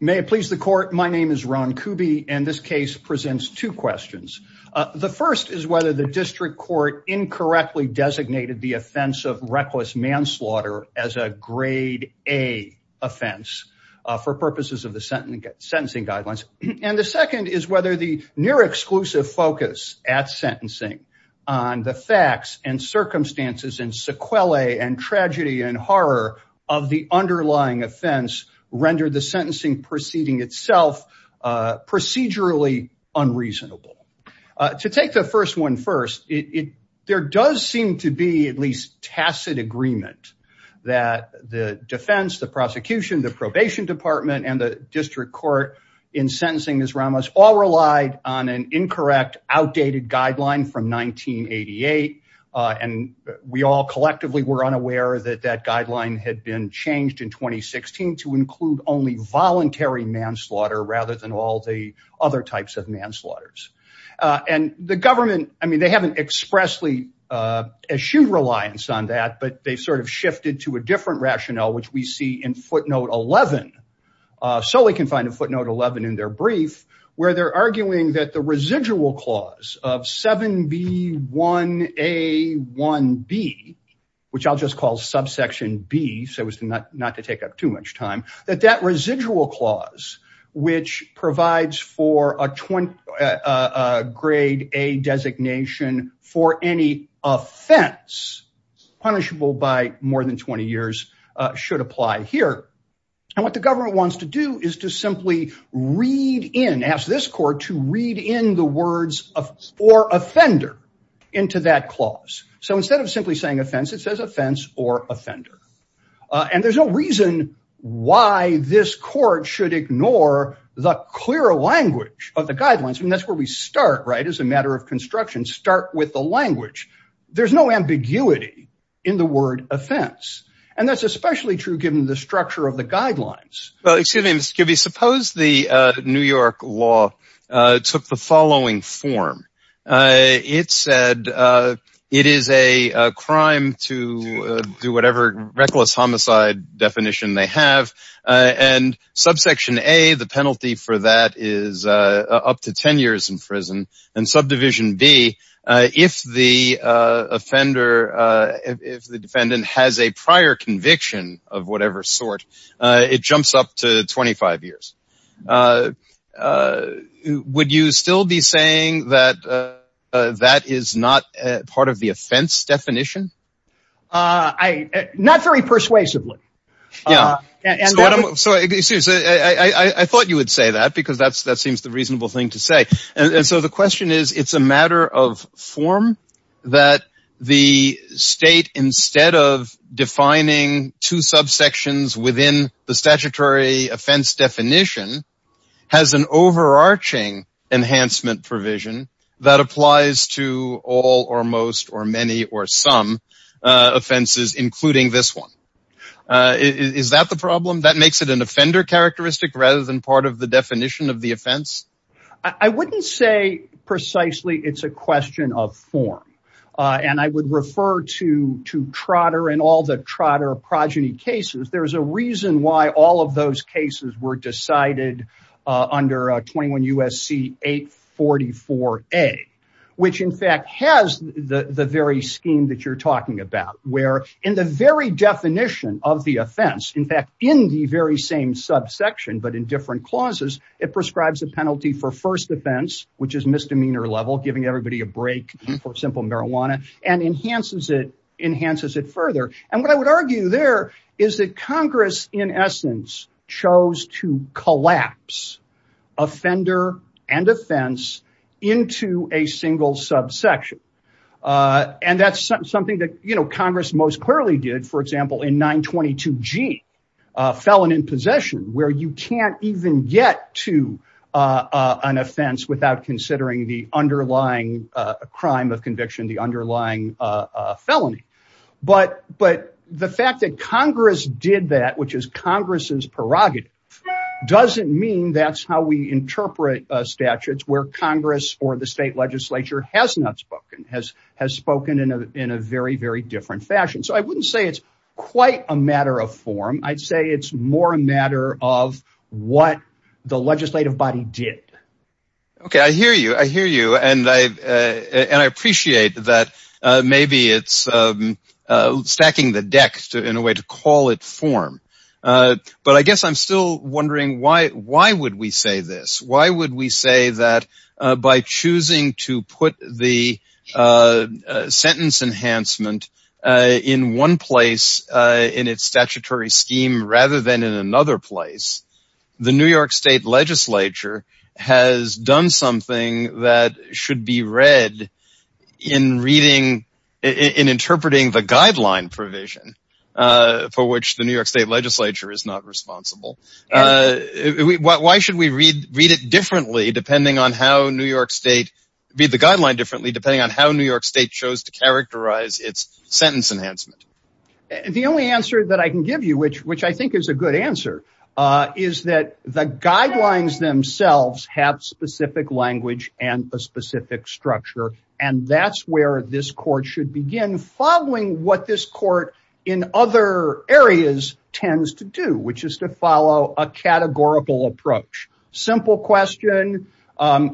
May it please the court. My name is Ron Kuby and this case presents two questions. The first is whether the district court incorrectly designated the offense of reckless manslaughter as a grade A offense for purposes of the sentencing guidelines. And the second is whether the near exclusive focus at sentencing on the facts and circumstances and sequelae and proceeding itself procedurally unreasonable. To take the first one first, there does seem to be at least tacit agreement that the defense, the prosecution, the probation department, and the district court in sentencing Ms. Ramos all relied on an incorrect, outdated guideline from 1988. And we all collectively were unaware that that guideline had been changed in 2016 to include only voluntary manslaughter rather than all the other types of manslaughter. And the government, I mean, they haven't expressly eschewed reliance on that, but they sort of shifted to a different rationale, which we see in footnote 11. So we can find a footnote 11 in their brief where they're arguing that the residual clause of 7B1A1B, which I'll just call subsection B so as not to take up too much time, that that residual clause, which provides for a grade A designation for any offense punishable by more than 20 years should apply here. And what the government wants to do is simply read in, ask this court to read in the words or offender into that clause. So instead of simply saying offense, it says offense or offender. And there's no reason why this court should ignore the clearer language of the guidelines. And that's where we start, right, as a matter of construction, start with the language. There's no ambiguity in the word offense. And that's especially true given the structure of the guidelines. Well, excuse me, Mr. Kirby, suppose the New York law took the following form. It said, it is a crime to do whatever reckless homicide definition they have. And subsection A, the penalty for that is up to 10 years in prison. And subdivision B, if the offender, if the defendant has a prior conviction of whatever sort, it jumps up to 25 years. Would you still be saying that that is not part of the offense definition? Not very persuasively. Yeah. So I thought you would say that because that's that seems the reasonable thing to say. And so the question is, it's a matter of form that the state, instead of defining two subsections within the statutory offense definition, has an overarching enhancement provision that applies to all or most or many or some offenses, including this one. Is that the problem that makes it an offender characteristic rather than part of the precisely, it's a question of form. And I would refer to Trotter and all the Trotter progeny cases. There's a reason why all of those cases were decided under 21 USC 844A, which in fact has the very scheme that you're talking about, where in the very definition of the offense, in fact, in the very same subsection, but in different clauses, it prescribes a penalty for first offense, which is misdemeanor level, giving everybody a break for simple marijuana and enhances it further. And what I would argue there is that Congress, in essence, chose to collapse offender and offense into a single subsection. And that's something that Congress most clearly did, for example, in 922G, felon in possession, where you can't even get to an offense without considering the underlying crime of conviction, the underlying felony. But the fact that Congress did that, which is Congress's prerogative, doesn't mean that's how we interpret statutes where Congress or the state legislature has not spoken, has spoken in a very, very different fashion. So I wouldn't say it's quite a matter of form. I'd say it's more a matter of what the legislative body did. Okay. I hear you. I hear you. And I appreciate that maybe it's stacking the deck in a way to call it form. But I guess I'm still wondering why would we say this? Why would we say that by choosing to put the sentence enhancement in one place in its statutory scheme rather than in another place, the New York state legislature has done something that should be read in reading, in interpreting the guideline provision for which the New York state legislature is not responsible? And why should we read it differently, depending on how New York state, read the guideline differently, depending on how New York state chose to characterize its sentence enhancement? The only answer that I can give you, which I think is a good answer, is that the guidelines themselves have specific language and a specific structure. And that's where this court should begin following what this court in other areas tends to do, which is to follow a categorical approach. Simple question.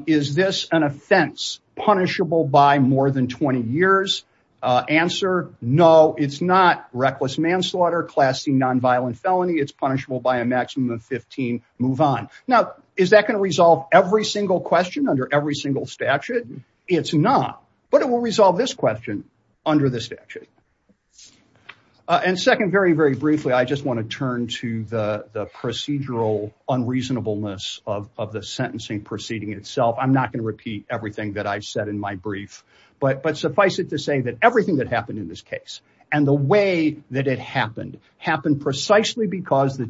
Is this an offense punishable by more than 20 years? Answer, no, it's not reckless manslaughter, class C nonviolent felony. It's punishable by a maximum of 15. Move on. Now, is that going to resolve every single question under every single statute? It's not, but it will resolve this question under the statute. And second, very, very briefly, I just want to turn to the procedural unreasonableness of the sentencing proceeding itself. I'm not going to repeat everything that I said in my brief, but suffice it to say that everything that happened in this case and the way that it happened, happened precisely because the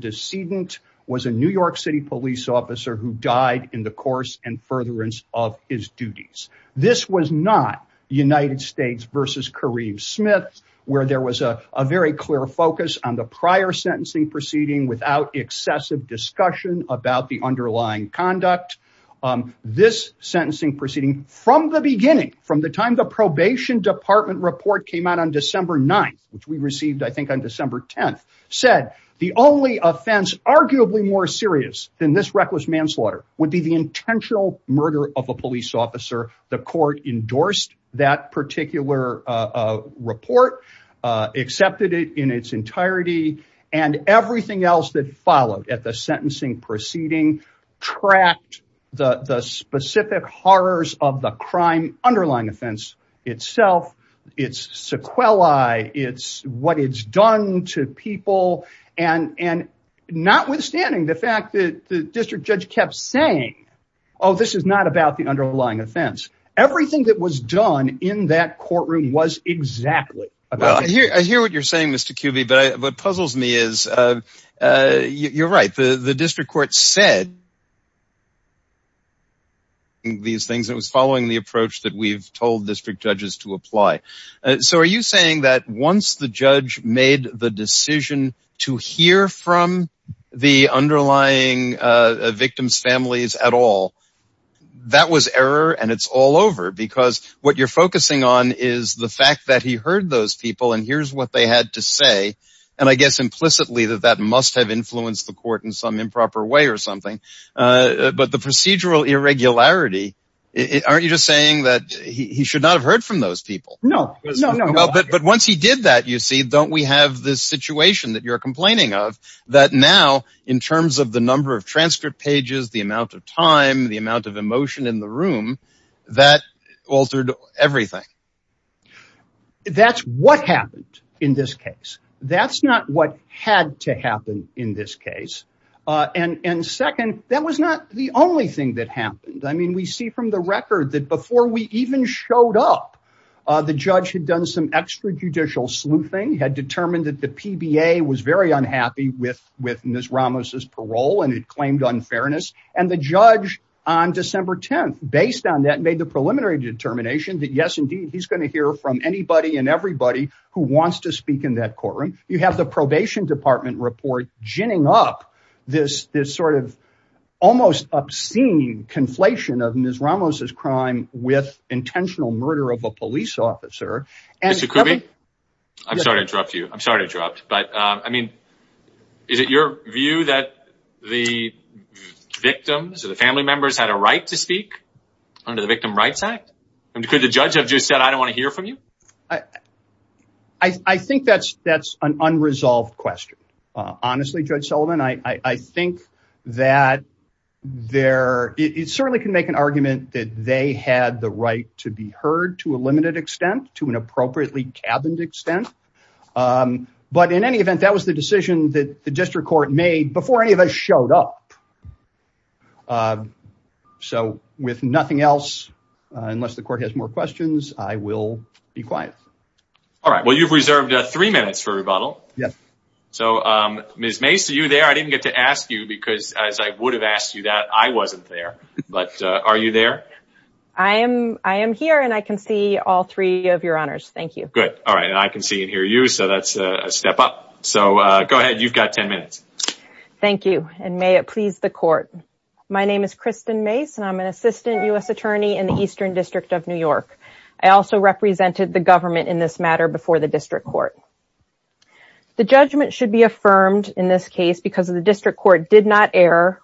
This was not the United States versus Kareem Smith, where there was a very clear focus on the prior sentencing proceeding without excessive discussion about the underlying conduct. This sentencing proceeding from the beginning, from the time the probation department report came out on December 9th, which we received, I think on December 10th, said the only offense, arguably more serious than this reckless manslaughter would be the intentional murder of a police officer. The court endorsed that particular report, accepted it in its entirety, and everything else that followed at the sentencing proceeding tracked the specific horrors of the crime underlying offense itself. It's sequelae. It's what it's done to people. And notwithstanding the fact that the district judge kept saying, oh, this is not about the underlying offense. Everything that was done in that courtroom was exactly about it. I hear what you're saying, Mr. Kubey, but what puzzles me is, you're right. The district court said these things. It was following the approach that we've told district judges to apply. So are you saying that once the judge made the decision to hear from the underlying victims' families at all, that was error and it's all over? Because what you're focusing on is the fact that he heard those people and here's what they had to say. And I guess implicitly that that must have influenced the court in some improper way or something. But the procedural irregularity, aren't you just saying that he should not have heard from those people? No, no, no. But once he did that, you see, don't we have this situation that you're complaining of that now in terms of the number of transcript pages, the amount of time, the amount of emotion in the room, that altered everything? That's what happened in this case. That's not what had to happen in this case. And second, that was not the only thing that happened. I mean, we see from the record that before we even showed up, the judge had done some extrajudicial sleuthing, had determined that the PBA was very unhappy with Ms. Ramos' parole and it claimed unfairness. And the judge on December 10th, based on that, made the preliminary determination that, yes, indeed, he's going to hear from anybody and everybody who wants to speak in that courtroom. You have the probation department report ginning up this sort of almost obscene conflation of Ms. Ramos' crime with intentional murder of a police officer. Mr. Kubey, I'm sorry to interrupt you. I'm sorry to interrupt. But I mean, is it your view that the victims or the family members had a right to speak under the Victim Rights Act? And could the judge have just said, I don't want to hear from you? I think that's an unresolved question. Honestly, Judge Sullivan, I think that it certainly can make an argument that they had the right to be heard to a limited extent, to an appropriately cabined extent. But in any event, that was the decision that the district court made before any showed up. So with nothing else, unless the court has more questions, I will be quiet. All right. Well, you've reserved three minutes for rebuttal. Yes. So, Ms. Mace, are you there? I didn't get to ask you because as I would have asked you that, I wasn't there. But are you there? I am. I am here and I can see all three of your honors. Thank you. Good. All right. And I can see and hear you. So that's a step up. So go ahead. You've got 10 minutes. Thank you. And may it please the court. My name is Kristen Mace and I'm an assistant U.S. attorney in the Eastern District of New York. I also represented the government in this matter before the district court. The judgment should be affirmed in this case because of the district court did not err,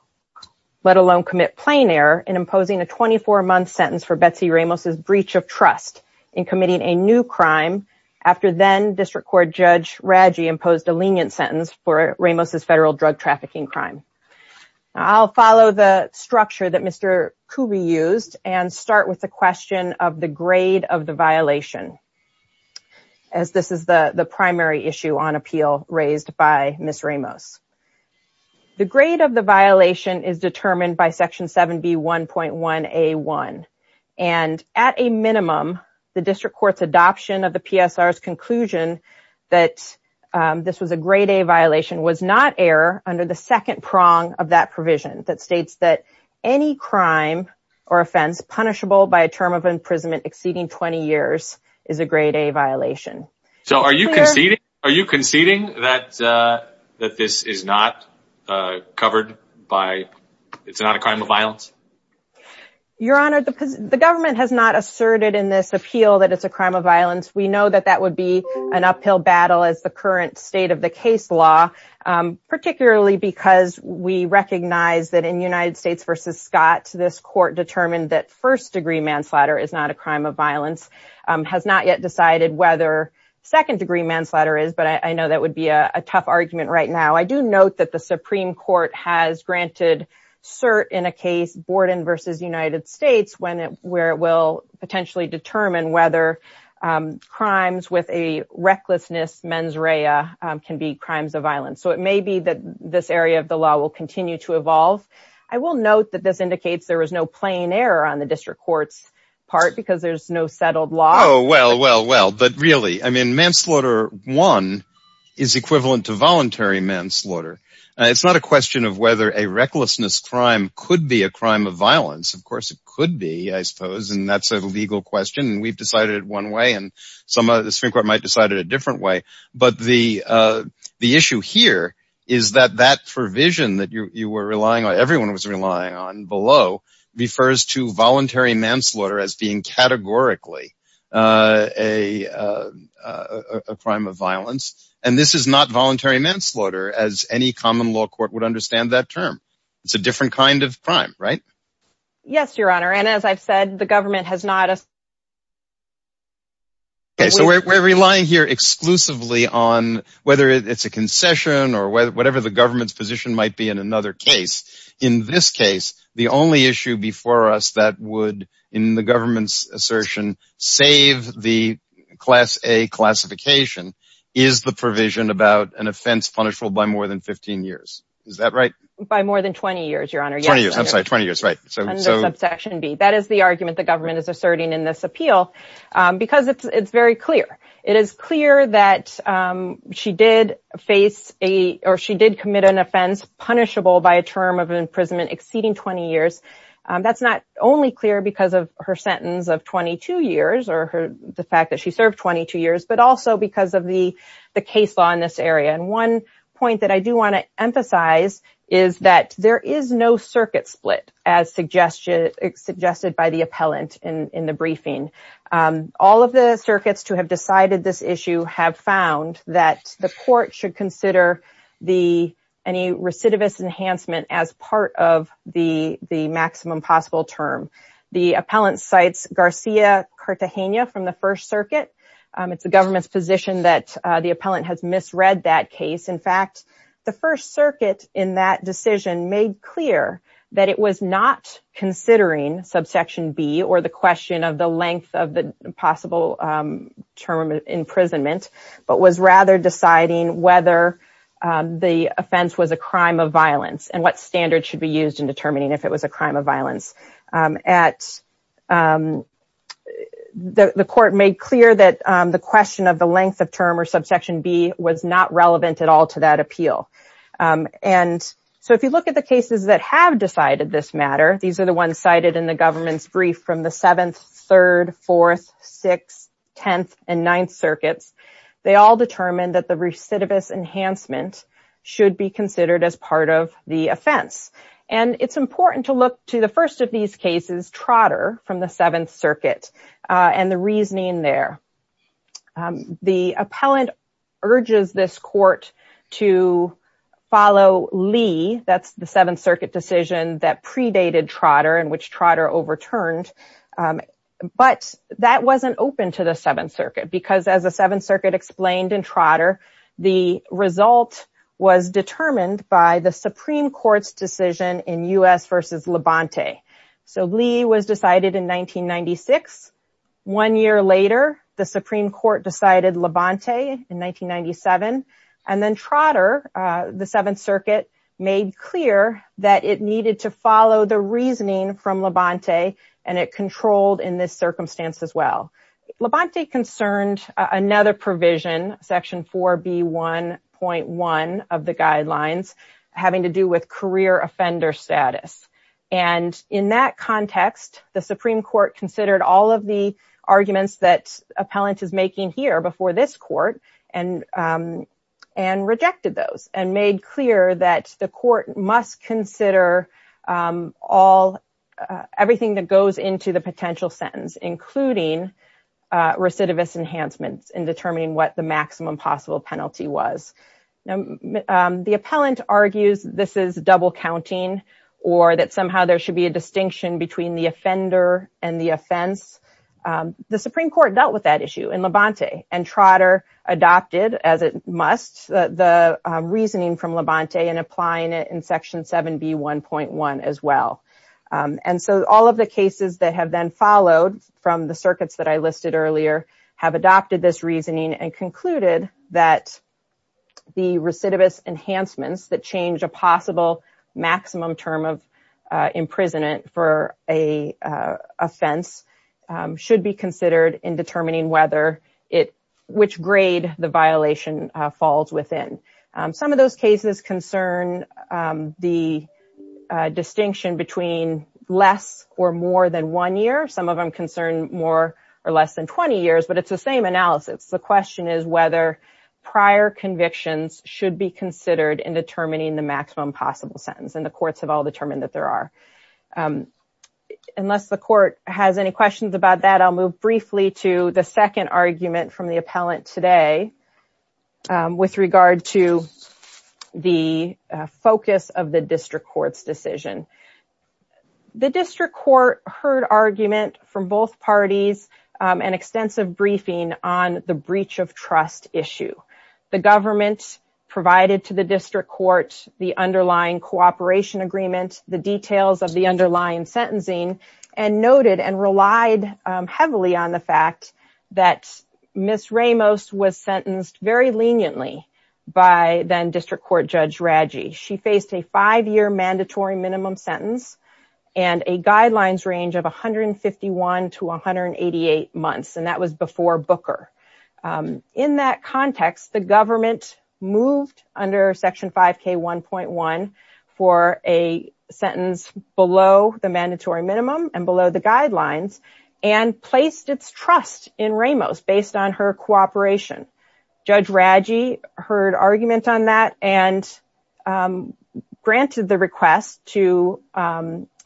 let alone commit plain error in imposing a 24-month sentence for Betsy Ramos' breach of trust in committing a new crime after then district court Judge Raggi imposed a lenient sentence for Ramos' federal drug trafficking crime. I'll follow the structure that Mr. Cooby used and start with the question of the grade of the violation, as this is the primary issue on appeal raised by Ms. Ramos. The grade of the violation is determined by Section 7B1.1A1. And at a minimum, the district court's adoption of the PSR's this was a grade A violation was not error under the second prong of that provision that states that any crime or offense punishable by a term of imprisonment exceeding 20 years is a grade A violation. So are you conceding that this is not covered by, it's not a crime of violence? Your Honor, the government has not asserted in this appeal that it's a crime of violence. We know that that would be an uphill battle as the current state of the case law, particularly because we recognize that in United States v. Scott, this court determined that first degree manslaughter is not a crime of violence, has not yet decided whether second degree manslaughter is, but I know that would be a tough argument right now. I do note that the Supreme Court has granted cert in a case, Borden v. United States, where it will potentially determine whether crimes with a recklessness mens rea can be crimes of violence. So it may be that this area of the law will continue to evolve. I will note that this indicates there was no plain error on the district court's part because there's no settled law. Oh, well, well, well, but really, I mean, manslaughter one is equivalent to voluntary manslaughter. It's not a question of whether a recklessness crime could be a crime of violence. Of course, it could be, I suppose, and that's a legal question. And and some of the Supreme Court might decide it a different way. But the issue here is that that provision that you were relying on, everyone was relying on below, refers to voluntary manslaughter as being categorically a crime of violence. And this is not voluntary manslaughter, as any common law court would understand that term. It's a different kind of crime, right? Yes, Your Honor. And as I've said, the government has not. OK, so we're relying here exclusively on whether it's a concession or whatever the government's position might be in another case. In this case, the only issue before us that would, in the government's assertion, save the class, a classification is the provision about an offense punishable by more than 15 years. Is that right? By more than 20 years, Your Honor. 20 years. I'm That is the argument the government is asserting in this appeal, because it's very clear. It is clear that she did face a or she did commit an offense punishable by a term of imprisonment exceeding 20 years. That's not only clear because of her sentence of 22 years or the fact that she served 22 years, but also because of the the case law in this area. And one point that I do want to appellant in the briefing. All of the circuits to have decided this issue have found that the court should consider the any recidivist enhancement as part of the maximum possible term. The appellant cites Garcia Cartagena from the First Circuit. It's the government's position that the appellant has misread that case. In fact, the First Circuit in that decision made clear that it was not considering subsection B or the question of the length of the possible term of imprisonment, but was rather deciding whether the offense was a crime of violence and what standards should be used in determining if it was a crime of violence at the court made clear that the question of the length of term or subsection B was not relevant at all to that appeal. And so if you look at the cited in the government's brief from the 7th, 3rd, 4th, 6th, 10th, and 9th circuits, they all determined that the recidivist enhancement should be considered as part of the offense. And it's important to look to the first of these cases, Trotter from the 7th Circuit and the reasoning there. The appellant urges this court to follow Lee. That's the 7th Circuit decision that predated Trotter and which Trotter overturned. But that wasn't open to the 7th Circuit because as the 7th Circuit explained in Trotter, the result was determined by the Supreme Court's decision in U.S. versus Labonte. So Lee was decided in 1996. One year later, the Supreme Court decided Labonte in 1997. And then Trotter, the 7th Circuit, made clear that it needed to follow the reasoning from Labonte and it controlled in this circumstance as well. Labonte concerned another provision, section 4B1.1 of the guidelines, having to do with career offender status. And in that context, the Supreme Court considered all of the arguments that appellant is making here before this court and rejected those and made clear that the court must consider everything that goes into the potential sentence, including recidivist enhancements in determining what the maximum possible penalty was. Now, the appellant argues this is double counting or that somehow there should be a distinction between the offender and the offense. The Supreme Court dealt with that issue in Labonte and Trotter adopted, as it must, the reasoning from Labonte and applying it in section 7B1.1 as well. And so all of the cases that have then followed from the circuits that I listed earlier have adopted this reasoning and concluded that the recidivist enhancements that a possible maximum term of imprisonment for an offense should be considered in determining whether which grade the violation falls within. Some of those cases concern the distinction between less or more than one year. Some of them concern more or less than 20 years, but it's the same the maximum possible sentence and the courts have all determined that there are. Unless the court has any questions about that, I'll move briefly to the second argument from the appellant today with regard to the focus of the district court's decision. The district court heard argument from both parties and extensive briefing on the breach of trust issue. The underlying cooperation agreement, the details of the underlying sentencing and noted and relied heavily on the fact that Ms. Ramos was sentenced very leniently by then district court judge Radji. She faced a five-year mandatory minimum sentence and a guidelines range of 151 to 188 months and was before Booker. In that context, the government moved under section 5k 1.1 for a sentence below the mandatory minimum and below the guidelines and placed its trust in Ramos based on her cooperation. Judge Radji heard argument on that and granted the request to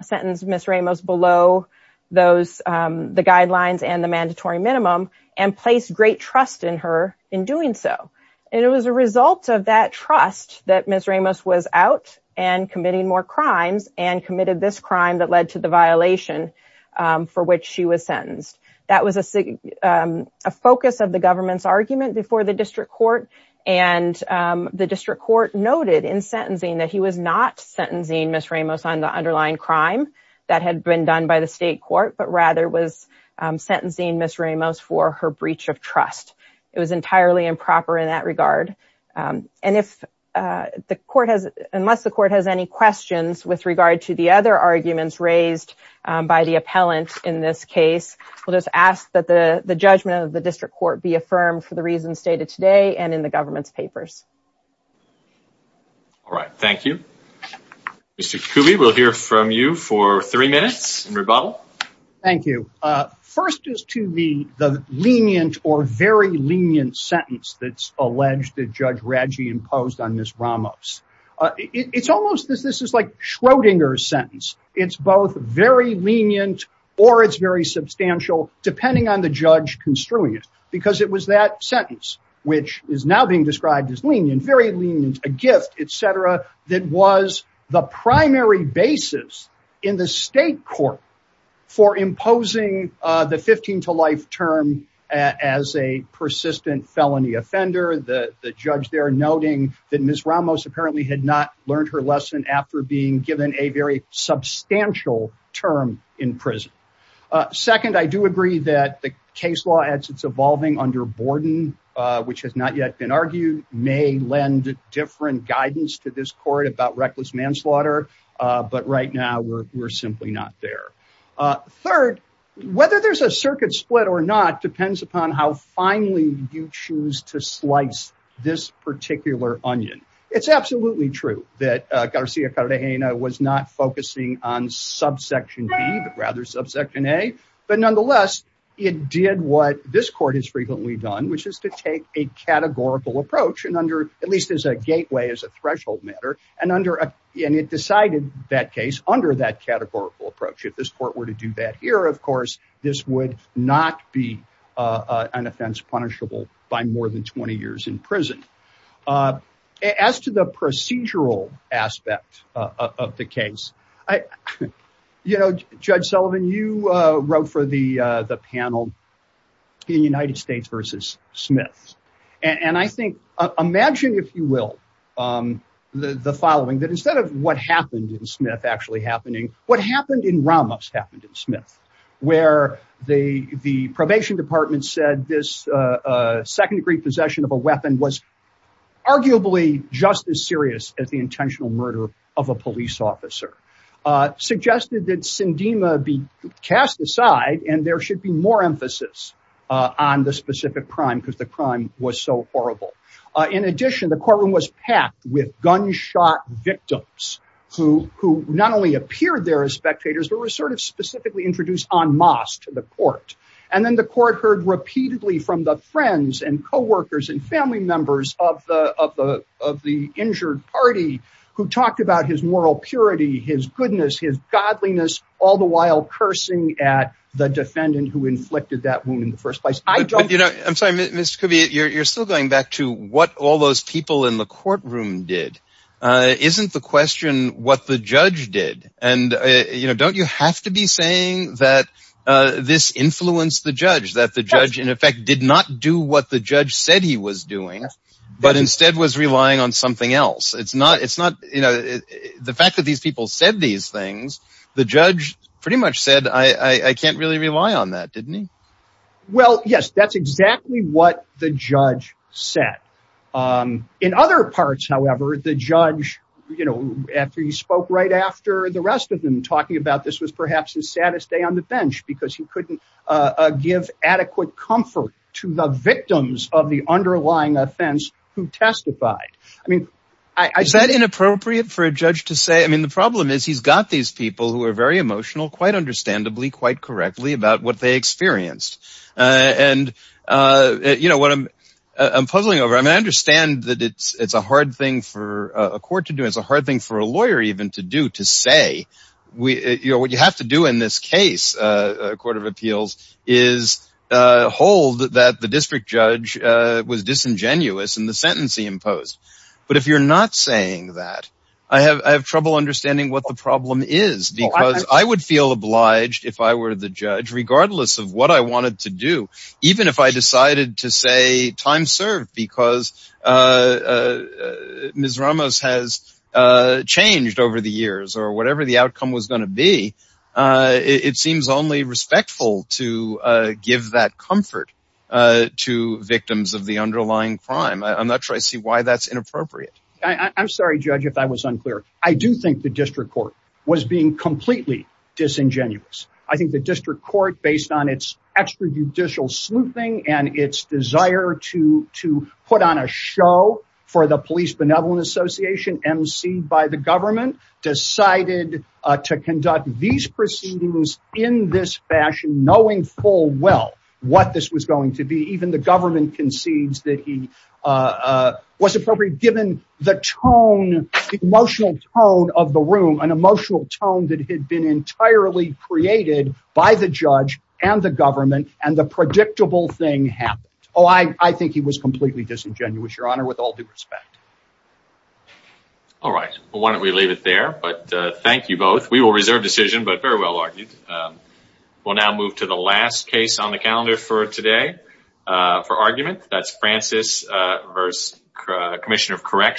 sentence Ms. Ramos below the guidelines and the mandatory minimum and placed great trust in her in doing so. It was a result of that trust that Ms. Ramos was out and committing more crimes and committed this crime that led to the violation for which she was sentenced. That was a focus of the government's argument before the district court and the district court noted in sentencing that he was not Ms. Ramos on the underlying crime that had been done by the state court but rather was sentencing Ms. Ramos for her breach of trust. It was entirely improper in that regard and if the court has unless the court has any questions with regard to the other arguments raised by the appellant in this case, we'll just ask that the the judgment of the district court be affirmed for the reasons stated today and in the government's papers. All right, thank you. Mr. Kubi, we'll hear from you for three minutes in rebuttal. Thank you. First is to me the lenient or very lenient sentence that's alleged that Judge Radji imposed on Ms. Ramos. It's almost this is like Schrodinger's sentence. It's both very lenient or it's very substantial depending on the judge construing it because it was that sentence which is now being described as lenient, very lenient, a gift, etc. that was the primary basis in the state court for imposing the 15 to life term as a persistent felony offender. The judge there noting that Ms. Ramos apparently had not learned her lesson after being given a very substantial term in prison. Second, I do agree that the case law as it's evolving under Borden, which has not yet been argued, may lend different guidance to this court about reckless manslaughter, but right now we're simply not there. Third, whether there's a circuit split or not depends upon how finely you choose to slice this particular onion. It's absolutely true that Garcia-Cartagena was not focusing on subsection B but rather subsection A, but nonetheless it did what this court has frequently done which is to take a categorical approach and under at least as a gateway as a threshold matter and it decided that case under that categorical approach. If this court were to do that here, of course, this would not be an offense punishable by more than 20 years in prison. As to the procedural aspect of the case, you know, Judge Sullivan, you wrote for the panel in United States v. Smith and I think imagine, if you will, the following that instead of what happened in Smith actually happening, what happened in Ramos happened in Smith where the probation department said this second-degree possession of a weapon was arguably just as serious as the intentional murder of a police officer. Suggested that cast aside and there should be more emphasis on the specific crime because the crime was so horrible. In addition, the courtroom was packed with gunshot victims who not only appeared there as spectators but were sort of specifically introduced en masse to the court and then the court heard repeatedly from the friends and co-workers and family members of the injured party who talked about his moral purity, his goodness, his godliness, all the while cursing at the defendant who inflicted that wound in the first place. I'm sorry, Mr. Covey, you're still going back to what all those people in the courtroom did. Isn't the question what the judge did and, you know, don't you have to be saying that this influenced the judge, that the judge, in effect, did not do what the judge said he was doing but instead was relying on something else? It's not, you know, the fact that these people said these things, the judge pretty much said, I can't really rely on that, didn't he? Well, yes, that's exactly what the judge said. In other parts, however, the judge, you know, after he spoke right after the rest of them talking about this was perhaps his saddest day on the bench because he couldn't give adequate comfort to the victims of the underlying offense who testified. I mean, is that inappropriate for a judge to say, I mean, the problem is he's got these people who are very emotional, quite understandably, quite correctly about what they experienced. And, you know, what I'm puzzling over, I mean, I understand that it's a hard thing for a court to do, it's a hard thing for a lawyer even to do, to say, you know, what you have to do in this case, Court of Appeals, is hold that the district judge was disingenuous in the sentence he imposed. But if you're not saying that, I have trouble understanding what the problem is because I would feel obliged if I were the judge, regardless of what I wanted to do, even if I decided to say, time served, because Ms. Ramos has changed over the years, or whatever the outcome was going to be, it seems only respectful to give that comfort to victims of the underlying crime. I'm not sure I see why that's inappropriate. I'm sorry, Judge, if I was unclear. I do think the district court was being completely disingenuous. I think the district court, based on its extrajudicial sleuthing and its desire to decided to conduct these proceedings in this fashion, knowing full well what this was going to be, even the government concedes that he was appropriate, given the tone, the emotional tone of the room, an emotional tone that had been entirely created by the judge and the government, and the predictable thing happened. Oh, I think he was completely disingenuous, with all due respect. All right. Why don't we leave it there? Thank you both. We will reserve decision, but very well argued. We'll now move to the last case on the calendar for today, for argument. That's Francis v. Commissioner of Correction.